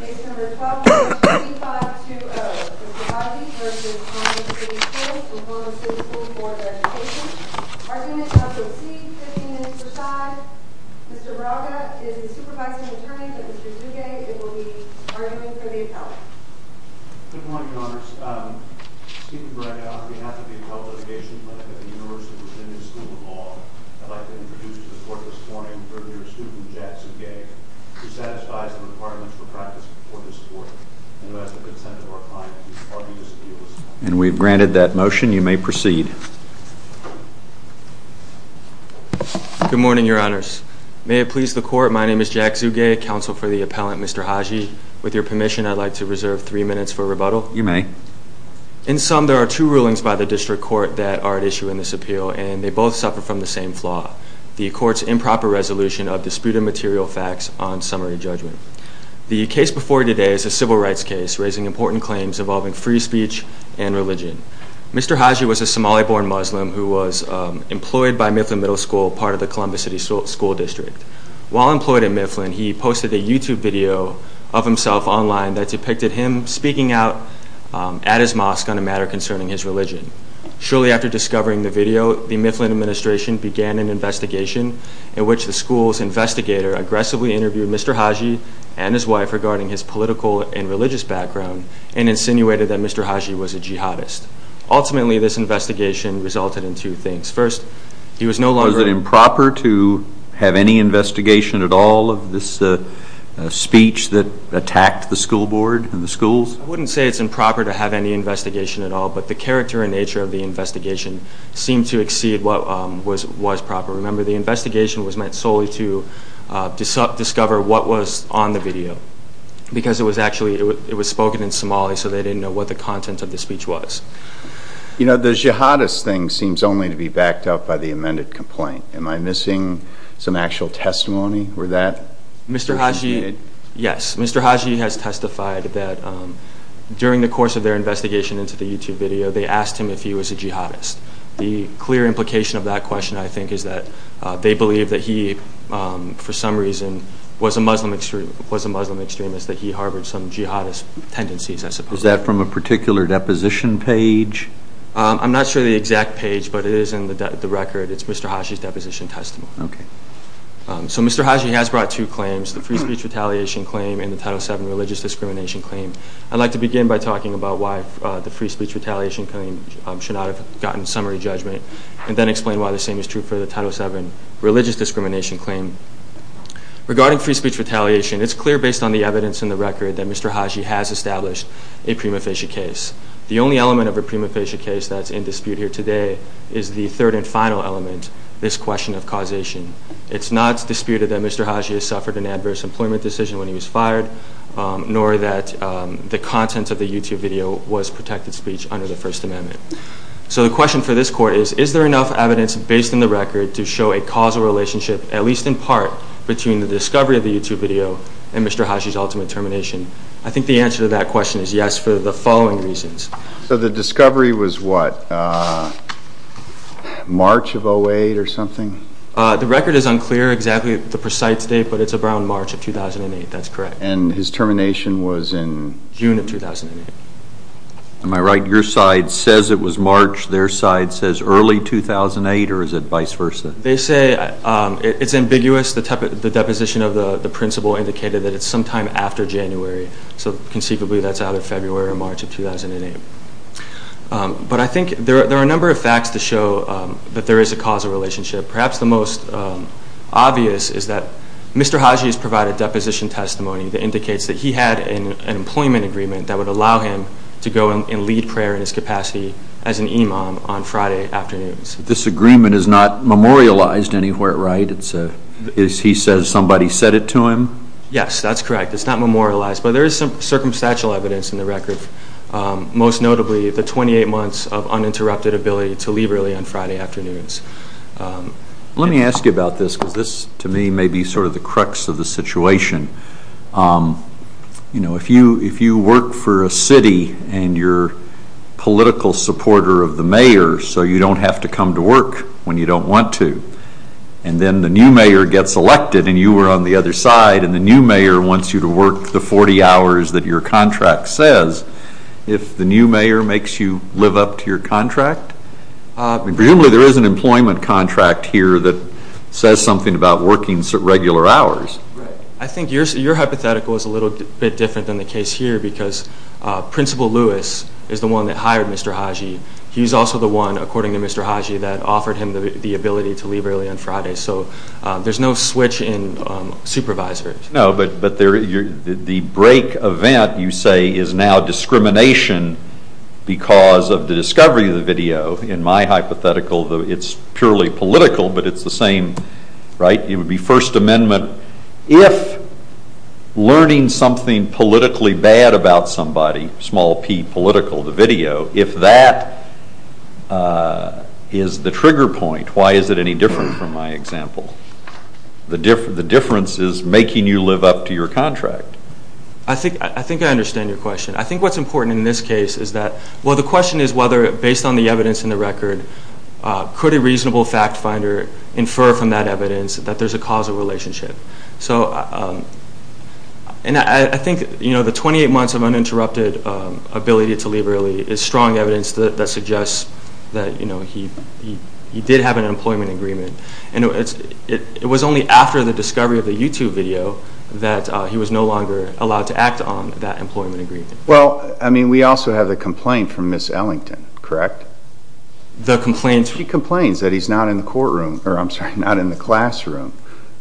Case number 12-02520. Mr. Haji v. Columbus City Schools, Columbus City Schools for their education. Argument number C, 15 minutes per side. Mr. Baraga is the supervising attorney for Mr. Tsuge. It will be argument for the appellate. Good morning, Your Honors. Stephen Baraga, on behalf of the Appellate Litigation Clinic at the University of Virginia School of Law, I'd like to introduce to the court this morning for your student, Jack Tsuge, who satisfies the requirements for practice before this court. And who has the consent of our client to argue this appeal this morning. And we've granted that motion. You may proceed. Good morning, Your Honors. May it please the court, my name is Jack Tsuge, counsel for the appellant, Mr. Haji. With your permission, I'd like to reserve three minutes for rebuttal. You may. In sum, there are two rulings by the district court that are at issue in this appeal, and they both suffer from the same flaw. The court's improper resolution of disputed material facts on summary judgment. The case before you today is a civil rights case, raising important claims involving free speech and religion. Mr. Haji was a Somali-born Muslim who was employed by Mifflin Middle School, part of the Columbus City School District. While employed at Mifflin, he posted a YouTube video of himself online that depicted him speaking out at his mosque on a matter concerning his religion. Shortly after discovering the video, the Mifflin administration began an investigation in which the school's investigator aggressively interviewed Mr. Haji and his wife regarding his political and religious background, and insinuated that Mr. Haji was a jihadist. Ultimately, this investigation resulted in two things. Was it improper to have any investigation at all of this speech that attacked the school board and the schools? I wouldn't say it's improper to have any investigation at all, but the character and nature of the investigation seemed to exceed what was proper. Remember, the investigation was meant solely to discover what was on the video, because it was spoken in Somali, so they didn't know what the content of the speech was. You know, the jihadist thing seems only to be backed up by the amended complaint. Am I missing some actual testimony? Mr. Haji, yes. Mr. Haji has testified that during the course of their investigation into the YouTube video, they asked him if he was a jihadist. The clear implication of that question, I think, is that they believe that he, for some reason, was a Muslim extremist, that he harbored some jihadist tendencies, I suppose. Was that from a particular deposition page? I'm not sure of the exact page, but it is in the record. It's Mr. Haji's deposition testimony. Okay. So Mr. Haji has brought two claims, the free speech retaliation claim and the Title VII religious discrimination claim. I'd like to begin by talking about why the free speech retaliation claim should not have gotten summary judgment and then explain why the same is true for the Title VII religious discrimination claim. Regarding free speech retaliation, it's clear based on the evidence in the record that Mr. Haji has established a prima facie case. The only element of a prima facie case that's in dispute here today is the third and final element, this question of causation. It's not disputed that Mr. Haji has suffered an adverse employment decision when he was fired, nor that the content of the YouTube video was protected speech under the First Amendment. So the question for this court is, is there enough evidence based on the record to show a causal relationship, at least in part, between the discovery of the YouTube video and Mr. Haji's ultimate termination? I think the answer to that question is yes for the following reasons. So the discovery was what, March of 2008 or something? The record is unclear exactly the precise date, but it's around March of 2008. That's correct. And his termination was in? June of 2008. Am I right? Your side says it was March. Their side says early 2008, or is it vice versa? They say it's ambiguous. The deposition of the principle indicated that it's sometime after January. So conceivably that's out of February or March of 2008. But I think there are a number of facts to show that there is a causal relationship. Perhaps the most obvious is that Mr. Haji has provided deposition testimony that indicates that he had an employment agreement that would allow him to go and lead prayer in his capacity as an imam on Friday afternoons. This agreement is not memorialized anywhere, right? He says somebody said it to him? Yes, that's correct. It's not memorialized. But there is some circumstantial evidence in the record, most notably the 28 months of uninterrupted ability to leave early on Friday afternoons. Let me ask you about this, because this to me may be sort of the crux of the situation. You know, if you work for a city and you're a political supporter of the mayor so you don't have to come to work when you don't want to, and then the new mayor gets elected and you were on the other side and the new mayor wants you to work the 40 hours that your contract says, if the new mayor makes you live up to your contract, presumably there is an employment contract here that says something about working regular hours. I think your hypothetical is a little bit different than the case here because Principal Lewis is the one that hired Mr. Haji. He's also the one, according to Mr. Haji, that offered him the ability to leave early on Friday. So there's no switch in supervisors. No, but the break event, you say, is now discrimination because of the discovery of the video. In my hypothetical it's purely political, but it's the same, right? It would be First Amendment if learning something politically bad about somebody, small p, political, the video, if that is the trigger point, why is it any different from my example? The difference is making you live up to your contract. I think I understand your question. I think what's important in this case is that, well, the question is whether, based on the evidence in the record, could a reasonable fact finder infer from that evidence that there's a causal relationship. And I think the 28 months of uninterrupted ability to leave early is strong evidence that suggests that he did have an employment agreement. It was only after the discovery of the YouTube video that he was no longer allowed to act on that employment agreement. Well, I mean, we also have the complaint from Ms. Ellington, correct? She complains that he's not in the classroom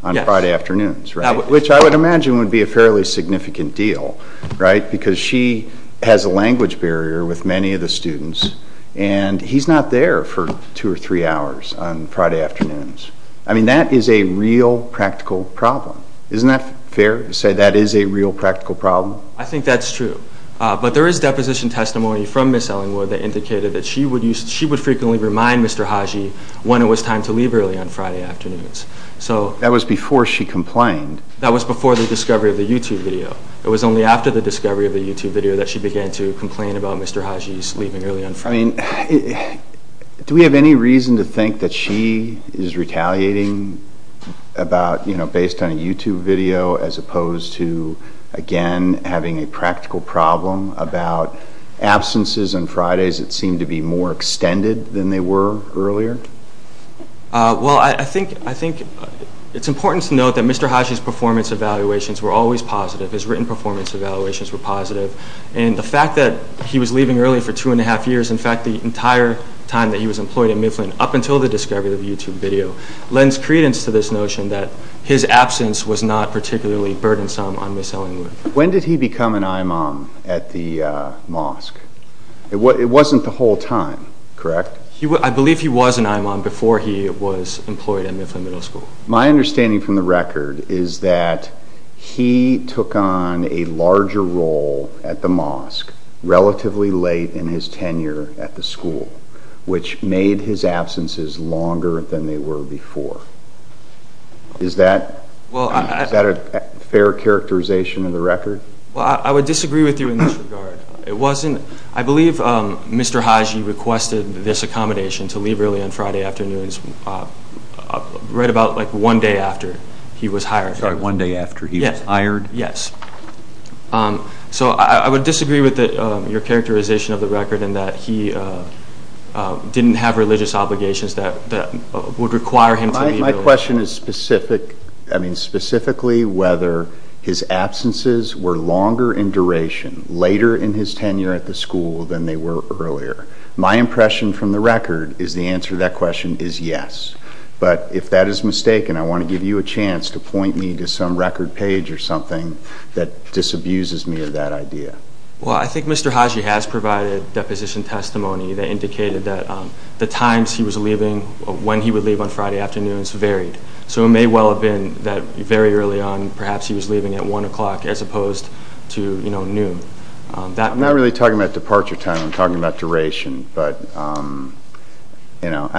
on Friday afternoons, right? Which I would imagine would be a fairly significant deal, right? Because she has a language barrier with many of the students, and he's not there for two or three hours on Friday afternoons. I mean, that is a real practical problem. Isn't that fair to say that is a real practical problem? I think that's true. But there is deposition testimony from Ms. Ellingwood that indicated that she would frequently remind Mr. Haji when it was time to leave early on Friday afternoons. That was before she complained? That was before the discovery of the YouTube video. It was only after the discovery of the YouTube video that she began to complain about Mr. Haji's leaving early on Friday. I mean, do we have any reason to think that she is retaliating based on a YouTube video as opposed to, again, having a practical problem about absences on Fridays that seem to be more extended than they were earlier? Well, I think it's important to note that Mr. Haji's performance evaluations were always positive. His written performance evaluations were positive. And the fact that he was leaving early for two and a half years, in fact, the entire time that he was employed at Mifflin up until the discovery of the YouTube video, lends credence to this notion that his absence was not particularly burdensome on Ms. Ellingwood. When did he become an imam at the mosque? It wasn't the whole time, correct? I believe he was an imam before he was employed at Mifflin Middle School. My understanding from the record is that he took on a larger role at the mosque relatively late in his tenure at the school, which made his absences longer than they were before. Is that a fair characterization of the record? I would disagree with you in this regard. I believe Mr. Haji requested this accommodation to leave early on Friday afternoons right about one day after he was hired. Sorry, one day after he was hired? Yes. So I would disagree with your characterization of the record in that he didn't have religious obligations that would require him to leave early. My question is specifically whether his absences were longer in duration later in his tenure at the school than they were earlier. My impression from the record is the answer to that question is yes. But if that is mistaken, I want to give you a chance to point me to some record page or something that disabuses me of that idea. Well, I think Mr. Haji has provided deposition testimony that indicated that the times he was leaving, when he would leave on Friday afternoons, varied. So it may well have been that very early on perhaps he was leaving at one o'clock as opposed to noon. I'm not really talking about departure time. I'm talking about duration. But, you know,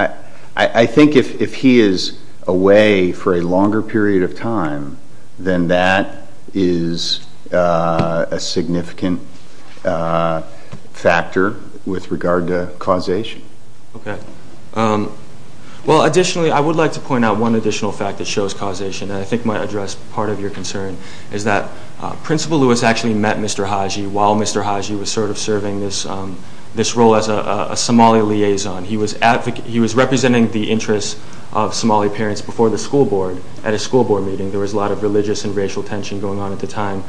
I think if he is away for a longer period of time, then that is a significant factor with regard to causation. Okay. Well, additionally, I would like to point out one additional fact that shows causation, and I think might address part of your concern, is that Principal Lewis actually met Mr. Haji while Mr. Haji was sort of serving this role as a Somali liaison. He was representing the interests of Somali parents before the school board at a school board meeting. There was a lot of religious and racial tension going on at the time,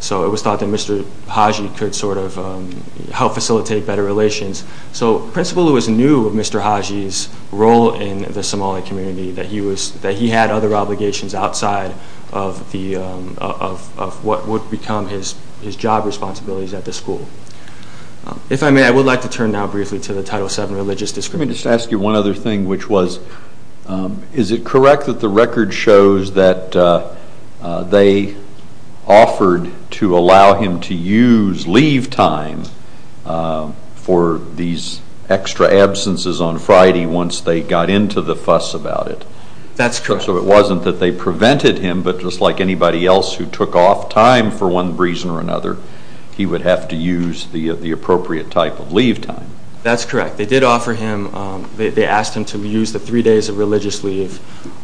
so it was thought that Mr. Haji could sort of help facilitate better relations. So Principal Lewis knew of Mr. Haji's role in the Somali community, that he had other obligations outside of what would become his job responsibilities at the school. If I may, I would like to turn now briefly to the Title VII Religious Discrimination. Let me just ask you one other thing, which was, is it correct that the record shows that they offered to allow him to use leave time for these extra absences on Friday once they got into the fuss about it? That's correct. So it wasn't that they prevented him, but just like anybody else who took off time for one reason or another, he would have to use the appropriate type of leave time. That's correct. They did offer him, they asked him to use the three days of religious leave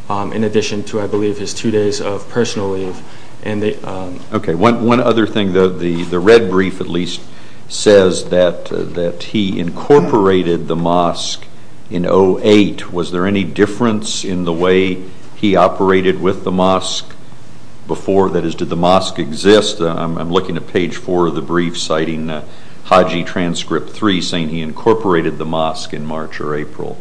in addition to, I believe, his two days of personal leave. Okay, one other thing. The red brief at least says that he incorporated the mosque in 08. Was there any difference in the way he operated with the mosque before? That is, did the mosque exist? I'm looking at page four of the brief citing Haji Transcript 3 saying he incorporated the mosque in March or April.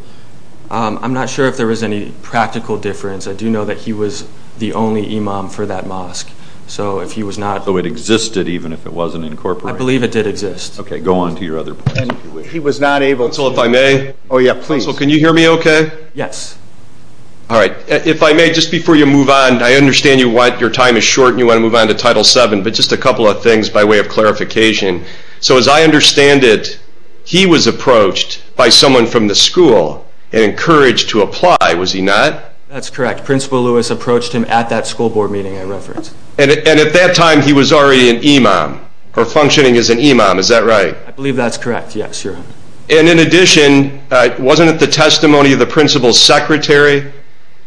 I'm not sure if there was any practical difference. I do know that he was the only imam for that mosque. So if he was not… So it existed even if it wasn't incorporated? I believe it did exist. Okay, go on to your other point. He was not able to… So if I may? Oh yeah, please. So can you hear me okay? Yes. All right, if I may, just before you move on, I understand your time is short and you want to move on to Title VII, but just a couple of things by way of clarification. So as I understand it, he was approached by someone from the school and encouraged to apply, was he not? That's correct. Principal Lewis approached him at that school board meeting I referenced. And at that time he was already an imam or functioning as an imam, is that right? I believe that's correct, yes. And in addition, wasn't it the testimony of the principal's secretary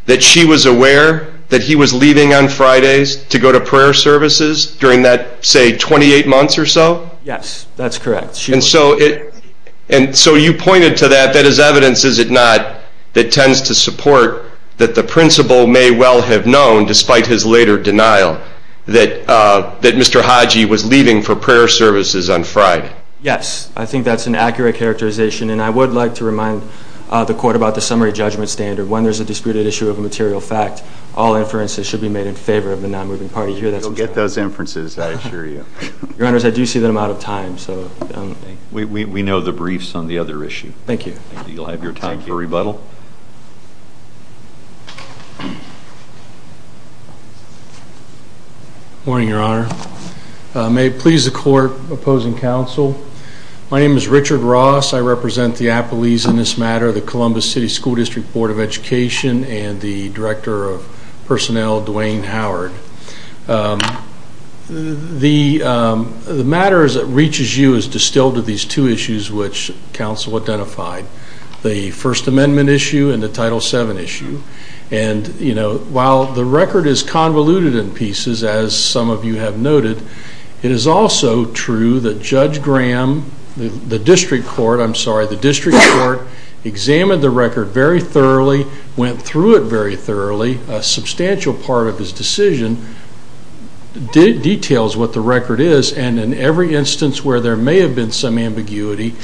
that she was aware that he was leaving on Fridays to go to prayer services during that, say, 28 months or so? Yes, that's correct. And so you pointed to that, that as evidence, is it not, that tends to support that the principal may well have known, despite his later denial, that Mr. Haji was leaving for prayer services on Friday? Yes, I think that's an accurate characterization. And I would like to remind the Court about the summary judgment standard. When there's a disputed issue of a material fact, all inferences should be made in favor of the non-moving party. You'll get those inferences, I assure you. Your Honors, I do see that I'm out of time. We know the briefs on the other issue. Thank you. You'll have your time for rebuttal. Good morning, Your Honor. May it please the Court opposing counsel. My name is Richard Ross. I represent the appellees in this matter, the Columbus City School District Board of Education, and the Director of Personnel, Duane Howard. The matter that reaches you is distilled to these two issues which counsel identified, the First Amendment issue and the Title VII issue. And, you know, while the record is convoluted in pieces, as some of you have noted, it is also true that Judge Graham, the District Court, I'm sorry, the District Court, examined the record very thoroughly, went through it very thoroughly. A substantial part of his decision details what the record is, and in every instance where there may have been some ambiguity,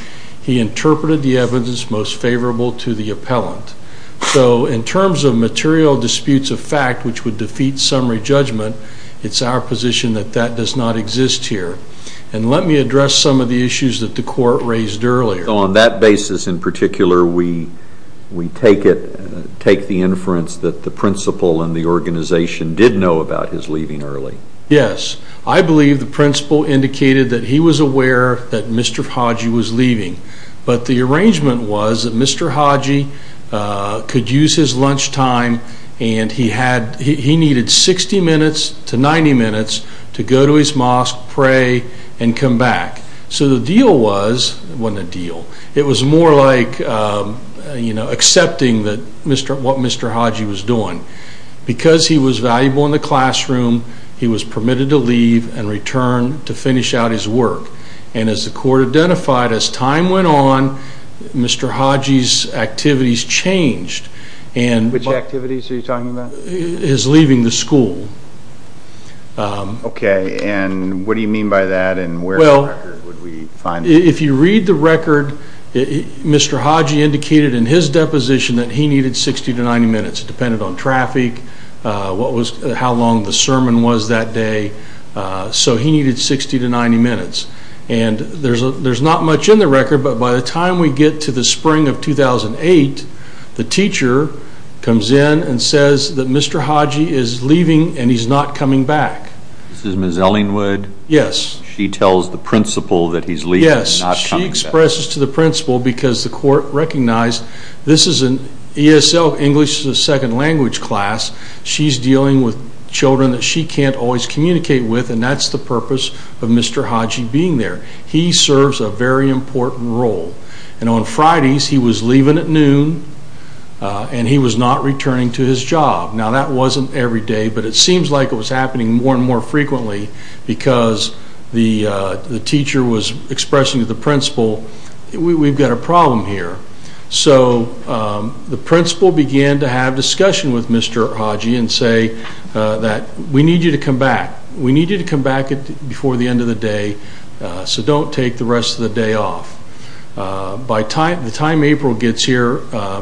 he interpreted the evidence most favorable to the appellant. So in terms of material disputes of fact which would defeat summary judgment, it's our position that that does not exist here. And let me address some of the issues that the Court raised earlier. On that basis in particular, we take it, take the inference that the principal and the organization did know about his leaving early. Yes. I believe the principal indicated that he was aware that Mr. Hodgey was leaving. But the arrangement was that Mr. Hodgey could use his lunchtime and he needed 60 minutes to 90 minutes to go to his mosque, pray, and come back. So the deal was, it wasn't a deal, it was more like, you know, accepting what Mr. Hodgey was doing. Because he was valuable in the classroom, he was permitted to leave and return to finish out his work. And as the Court identified, as time went on, Mr. Hodgey's activities changed. Which activities are you talking about? His leaving the school. Okay, and what do you mean by that and where in the record would we find that? If you read the record, Mr. Hodgey indicated in his deposition that he needed 60 to 90 minutes. It depended on traffic, how long the sermon was that day. So he needed 60 to 90 minutes. And there's not much in the record, but by the time we get to the spring of 2008, the teacher comes in and says that Mr. Hodgey is leaving and he's not coming back. This is Ms. Ellingwood? Yes. She tells the principal that he's leaving and not coming back. Yes, she expresses to the principal because the Court recognized this is an ESL, English as a Second Language class. She's dealing with children that she can't always communicate with, and that's the purpose of Mr. Hodgey being there. He serves a very important role. And on Fridays, he was leaving at noon and he was not returning to his job. Now, that wasn't every day, but it seems like it was happening more and more frequently because the teacher was expressing to the principal, we've got a problem here. So the principal began to have discussion with Mr. Hodgey and say that we need you to come back. We need you to come back before the end of the day, so don't take the rest of the day off. By the time April gets here,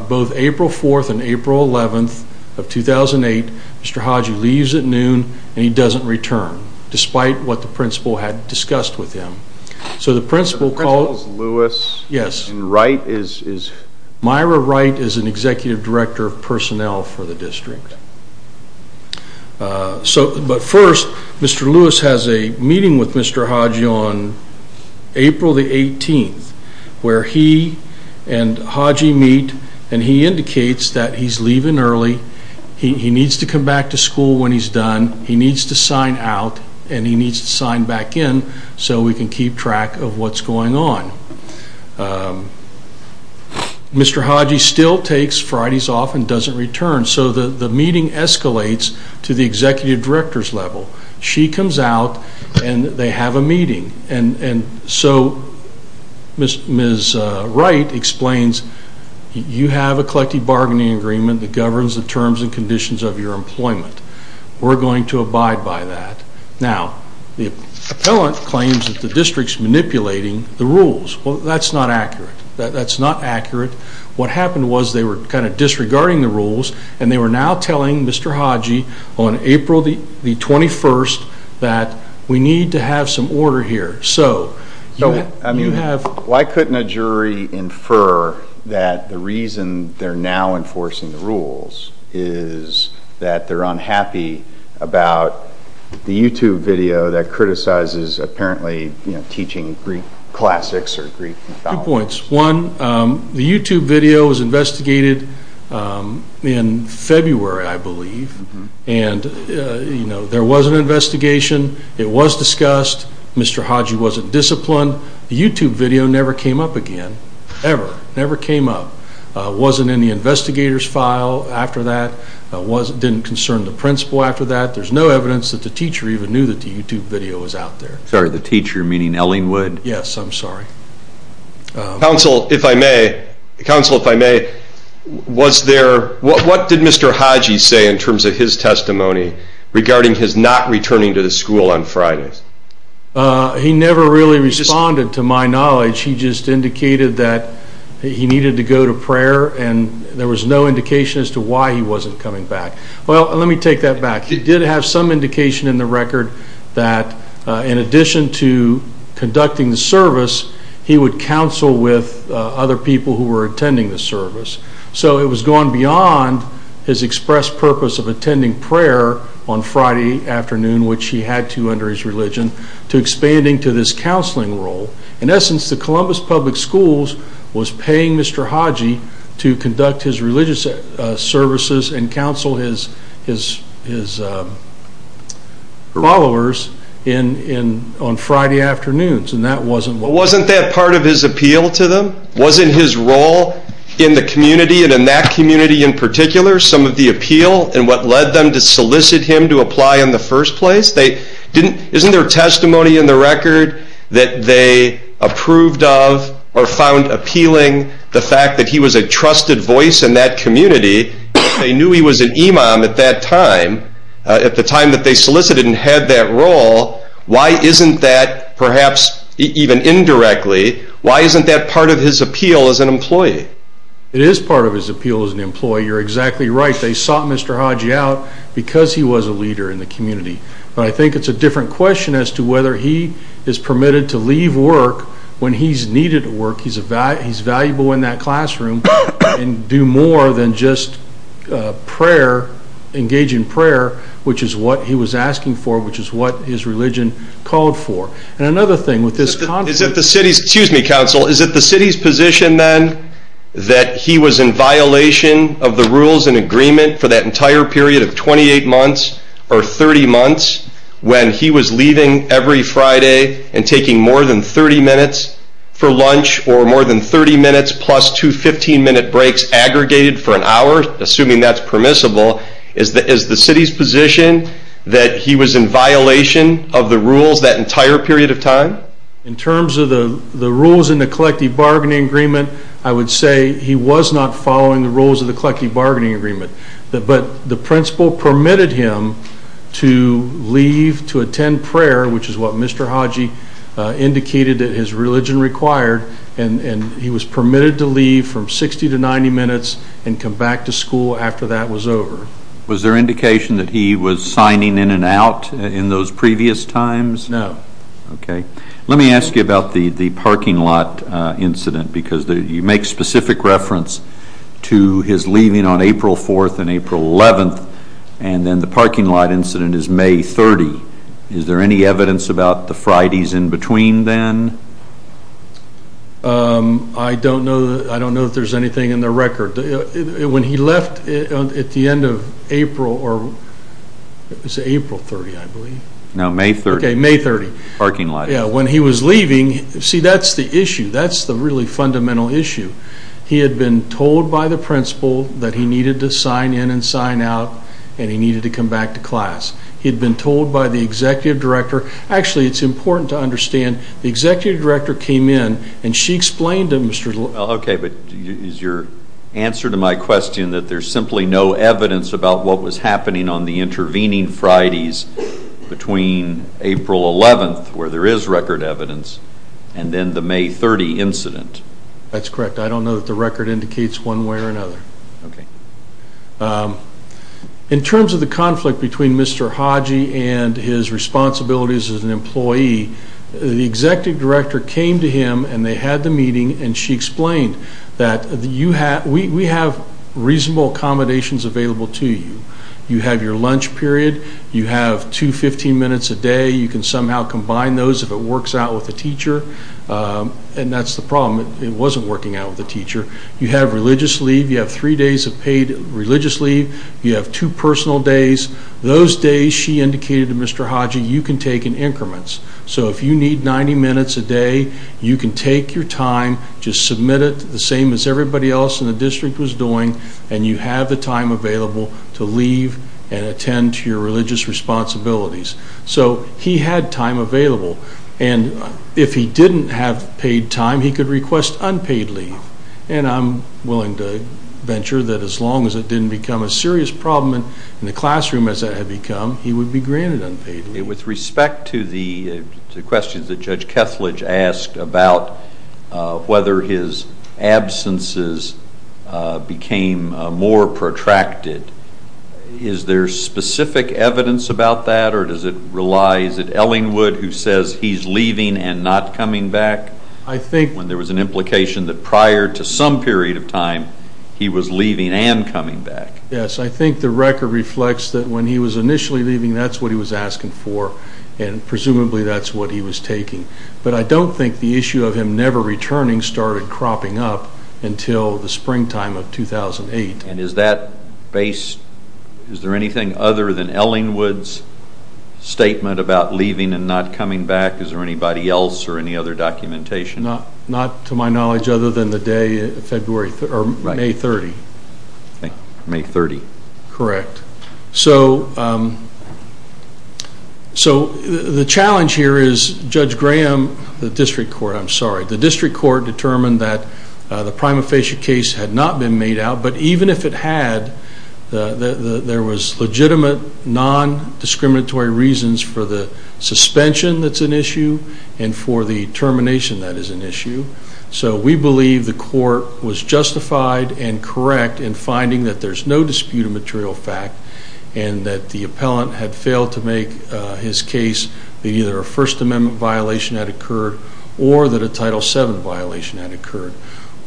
both April 4th and April 11th of 2008, Mr. Hodgey leaves at noon and he doesn't return, despite what the principal had discussed with him. The principal is Lewis, and Wright is... Myra Wright is an executive director of personnel for the district. But first, Mr. Lewis has a meeting with Mr. Hodgey on April the 18th, where he and Hodgey meet, and he indicates that he's leaving early, he needs to come back to school when he's done, he needs to sign out, and he needs to sign back in so we can keep track of what's going on. Mr. Hodgey still takes Fridays off and doesn't return, so the meeting escalates to the executive director's level. She comes out, and they have a meeting. And so Ms. Wright explains, you have a collective bargaining agreement that governs the terms and conditions of your employment. We're going to abide by that. Now, the appellant claims that the district's manipulating the rules. Well, that's not accurate. That's not accurate. What happened was they were kind of disregarding the rules, and they were now telling Mr. Hodgey on April the 21st that we need to have some order here. So, you have... about the YouTube video that criticizes apparently teaching Greek classics or Greek mythology. Two points. One, the YouTube video was investigated in February, I believe, and there was an investigation. It was discussed. Mr. Hodgey wasn't disciplined. The YouTube video never came up again, ever, never came up. It wasn't in the investigator's file after that. It didn't concern the principal after that. There's no evidence that the teacher even knew that the YouTube video was out there. Sorry, the teacher, meaning Ellingwood? Yes, I'm sorry. Counsel, if I may, was there... What did Mr. Hodgey say in terms of his testimony regarding his not returning to the school on Fridays? He never really responded, to my knowledge. He just indicated that he needed to go to prayer, and there was no indication as to why he wasn't coming back. Well, let me take that back. He did have some indication in the record that, in addition to conducting the service, he would counsel with other people who were attending the service. So, it was gone beyond his expressed purpose of attending prayer on Friday afternoon, which he had to under his religion, to expanding to this counseling role. In essence, the Columbus Public Schools was paying Mr. Hodgey to conduct his religious services and counsel his followers on Friday afternoons, and that wasn't what... Wasn't that part of his appeal to them? Wasn't his role in the community, and in that community in particular, some of the appeal and what led them to solicit him to apply in the first place? Isn't there testimony in the record that they approved of or found appealing the fact that he was a trusted voice in that community? They knew he was an imam at that time, at the time that they solicited and had that role. Why isn't that, perhaps even indirectly, why isn't that part of his appeal as an employee? It is part of his appeal as an employee. You're exactly right. They sought Mr. Hodgey out because he was a leader in the community, but I think it's a different question as to whether he is permitted to leave work when he's needed at work. He's valuable in that classroom and do more than just engage in prayer, which is what he was asking for, which is what his religion called for. And another thing with this... Excuse me, counsel. Is it the city's position then that he was in violation of the rules and agreement for that entire period of 28 months or 30 months when he was leaving every Friday and taking more than 30 minutes for lunch or more than 30 minutes plus two 15-minute breaks aggregated for an hour, assuming that's permissible? Is the city's position that he was in violation of the rules that entire period of time? In terms of the rules in the collective bargaining agreement, I would say he was not following the rules of the collective bargaining agreement, but the principal permitted him to leave to attend prayer, which is what Mr. Hodgey indicated that his religion required, and he was permitted to leave from 60 to 90 minutes and come back to school after that was over. Was there indication that he was signing in and out in those previous times? No. Okay. Let me ask you about the parking lot incident because you make specific reference to his leaving on April 4th and April 11th, and then the parking lot incident is May 30th. Is there any evidence about the Fridays in between then? I don't know if there's anything in the record. When he left at the end of April, or was it April 30th, I believe? No, May 30th. Okay, May 30th. Parking lot. Yeah, when he was leaving, see, that's the issue. That's the really fundamental issue. He had been told by the principal that he needed to sign in and sign out and he needed to come back to class. He had been told by the executive director. Actually, it's important to understand the executive director came in and she explained to Mr. Hodgey. Okay, but is your answer to my question that there's simply no evidence about what was happening on the intervening Fridays between April 11th, where there is record evidence, and then the May 30 incident? That's correct. I don't know that the record indicates one way or another. Okay. In terms of the conflict between Mr. Hodgey and his responsibilities as an employee, the executive director came to him and they had the meeting, and she explained that we have reasonable accommodations available to you. You have your lunch period. You have two 15-minutes a day. You can somehow combine those if it works out with the teacher, and that's the problem. It wasn't working out with the teacher. You have religious leave. You have three days of paid religious leave. You have two personal days. Those days, she indicated to Mr. Hodgey, you can take in increments. So if you need 90 minutes a day, you can take your time, just submit it the same as everybody else in the district was doing, and you have the time available to leave and attend to your religious responsibilities. So he had time available. And if he didn't have paid time, he could request unpaid leave. And I'm willing to venture that as long as it didn't become a serious problem in the classroom as it had become, he would be granted unpaid leave. With respect to the questions that Judge Kethledge asked about whether his absences became more protracted, is there specific evidence about that, or does it rely? Is it Ellingwood who says he's leaving and not coming back when there was an implication that prior to some period of time, he was leaving and coming back? Yes. I think the record reflects that when he was initially leaving, that's what he was asking for, and presumably that's what he was taking. But I don't think the issue of him never returning started cropping up until the springtime of 2008. And is that based, is there anything other than Ellingwood's statement about leaving and not coming back? Is there anybody else or any other documentation? Not to my knowledge other than the day, May 30. May 30. Correct. So the challenge here is Judge Graham, the district court, I'm sorry, the district court determined that the prima facie case had not been made out, but even if it had, there was legitimate non-discriminatory reasons for the suspension that's an issue and for the termination that is an issue. So we believe the court was justified and correct in finding that there's no dispute of material fact and that the appellant had failed to make his case that either a First Amendment violation had occurred or that a Title VII violation had occurred.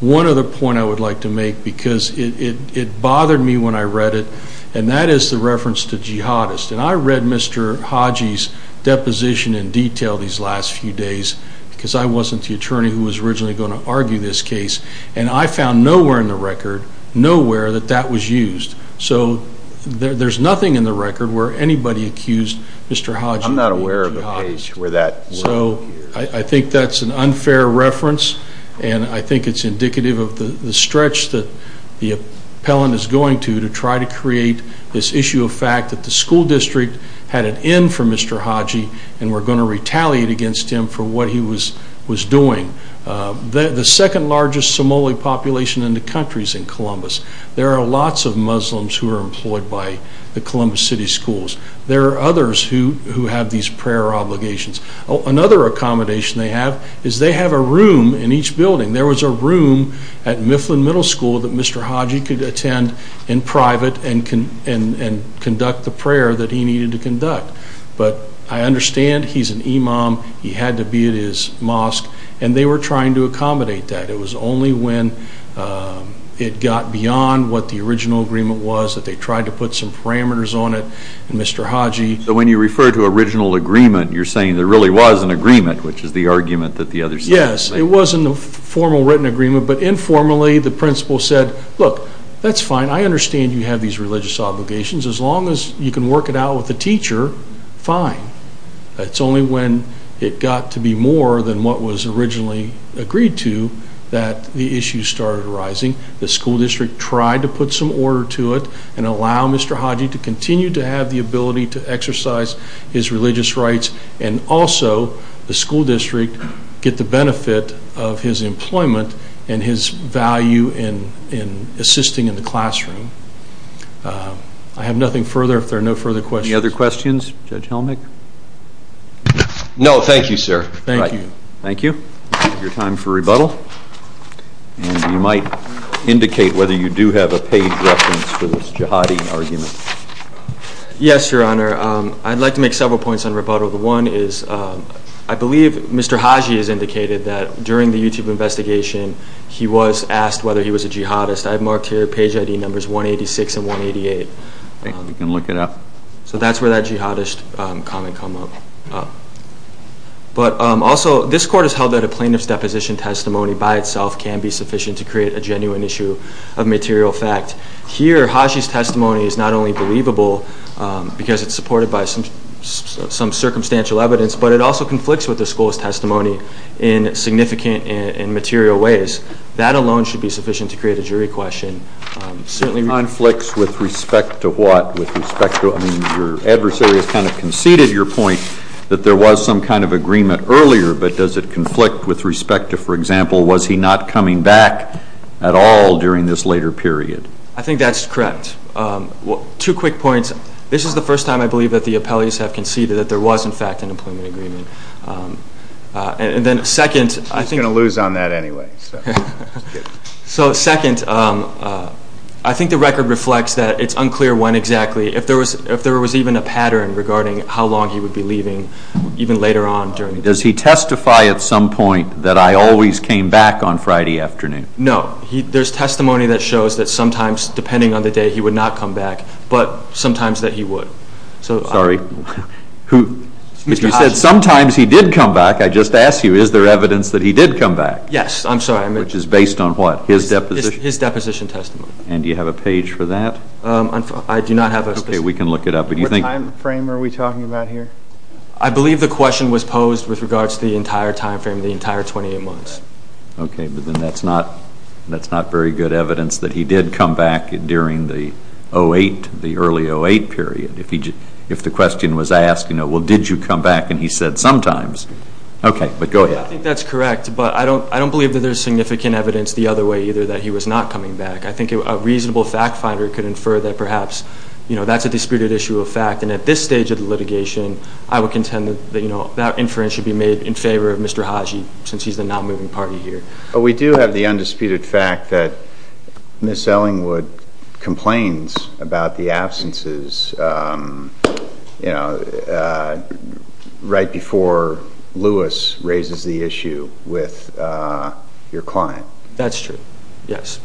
One other point I would like to make, because it bothered me when I read it, and that is the reference to jihadists. And I read Mr. Hodge's deposition in detail these last few days because I wasn't the attorney who was originally going to argue this case, and I found nowhere in the record, nowhere, that that was used. So there's nothing in the record where anybody accused Mr. Hodge of being a jihadist. I'm not aware of a page where that word appears. So I think that's an unfair reference, and I think it's indicative of the stretch that the appellant is going to to try to create this issue of fact that the school district had an in for Mr. Hodge and were going to retaliate against him for what he was doing. The second largest Somali population in the country is in Columbus. There are lots of Muslims who are employed by the Columbus City Schools. There are others who have these prayer obligations. Another accommodation they have is they have a room in each building. There was a room at Mifflin Middle School that Mr. Hodge could attend in private and conduct the prayer that he needed to conduct. But I understand he's an imam. He had to be at his mosque, and they were trying to accommodate that. It was only when it got beyond what the original agreement was that they tried to put some parameters on it, and Mr. Hodge. So when you refer to original agreement, you're saying there really was an agreement, which is the argument that the other side is making. Yes, it was in the formal written agreement, but informally the principal said, look, that's fine. I understand you have these religious obligations. As long as you can work it out with the teacher, fine. It's only when it got to be more than what was originally agreed to that the issues started arising. The school district tried to put some order to it and allow Mr. Hodge to continue to have the ability to exercise his religious rights and also the school district get the benefit of his employment and his value in assisting in the classroom. I have nothing further if there are no further questions. Any other questions? Judge Helmick? No, thank you, sir. Thank you. Thank you. Your time for rebuttal. And you might indicate whether you do have a page reference for this jihadi argument. Yes, Your Honor. I'd like to make several points on rebuttal. One is I believe Mr. Hodge has indicated that during the YouTube investigation he was asked whether he was a jihadist. I've marked here page ID numbers 186 and 188. We can look it up. So that's where that jihadist comment comes up. But also, this court has held that a plaintiff's deposition testimony by itself can be sufficient to create a genuine issue of material fact. Here, Haji's testimony is not only believable because it's supported by some circumstantial evidence, but it also conflicts with the school's testimony in significant and material ways. That alone should be sufficient to create a jury question. Conflicts with respect to what? With respect to your adversary has kind of conceded your point that there was some kind of agreement earlier, but does it conflict with respect to, for example, was he not coming back at all during this later period? I think that's correct. Two quick points. This is the first time I believe that the appellees have conceded that there was, in fact, an employment agreement. He's going to lose on that anyway. So second, I think the record reflects that it's unclear when exactly, if there was even a pattern regarding how long he would be leaving even later on during the period. Does he testify at some point that I always came back on Friday afternoon? No. There's testimony that shows that sometimes, depending on the day, he would not come back, but sometimes that he would. Sorry. If you said sometimes he did come back, I just asked you, is there evidence that he did come back? Yes. I'm sorry. Which is based on what? His deposition testimony. And do you have a page for that? I do not have a page. Okay. We can look it up. What time frame are we talking about here? I believe the question was posed with regards to the entire time frame, the entire 28 months. Okay. But then that's not very good evidence that he did come back during the 08, the early 08 period. If the question was asked, you know, well, did you come back? And he said sometimes. Okay. But go ahead. I think that's correct, but I don't believe that there's significant evidence the other way either that he was not coming back. I think a reasonable fact finder could infer that perhaps, you know, that's a disputed issue of fact. And at this stage of the litigation, I would contend that that inference should be made in favor of Mr. Haji since he's the not moving party here. But we do have the undisputed fact that Ms. Ellingwood complains about the absences, you know, right before Lewis raises the issue with your client. That's true. Yes.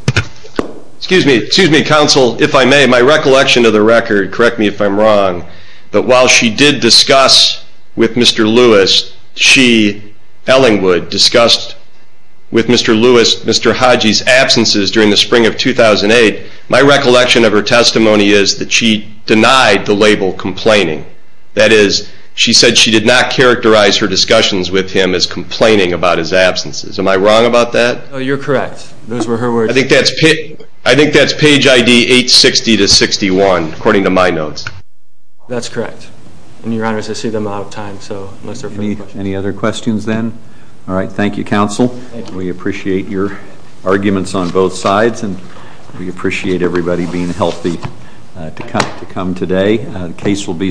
Excuse me. Excuse me, counsel, if I may. My recollection of the record, correct me if I'm wrong, but while she did discuss with Mr. Lewis, she, Ellingwood, discussed with Mr. Lewis, Mr. Haji's absences during the spring of 2008, my recollection of her testimony is that she denied the label complaining. That is, she said she did not characterize her discussions with him as complaining about his absences. Am I wrong about that? No, you're correct. Those were her words. I think that's page ID 860 to 61 according to my notes. That's correct. And, Your Honors, I see that I'm out of time, so unless there are further questions. Any other questions then? All right. Thank you, counsel. Thank you. We appreciate your arguments on both sides, and we appreciate everybody being healthy to come today. The case will be submitted.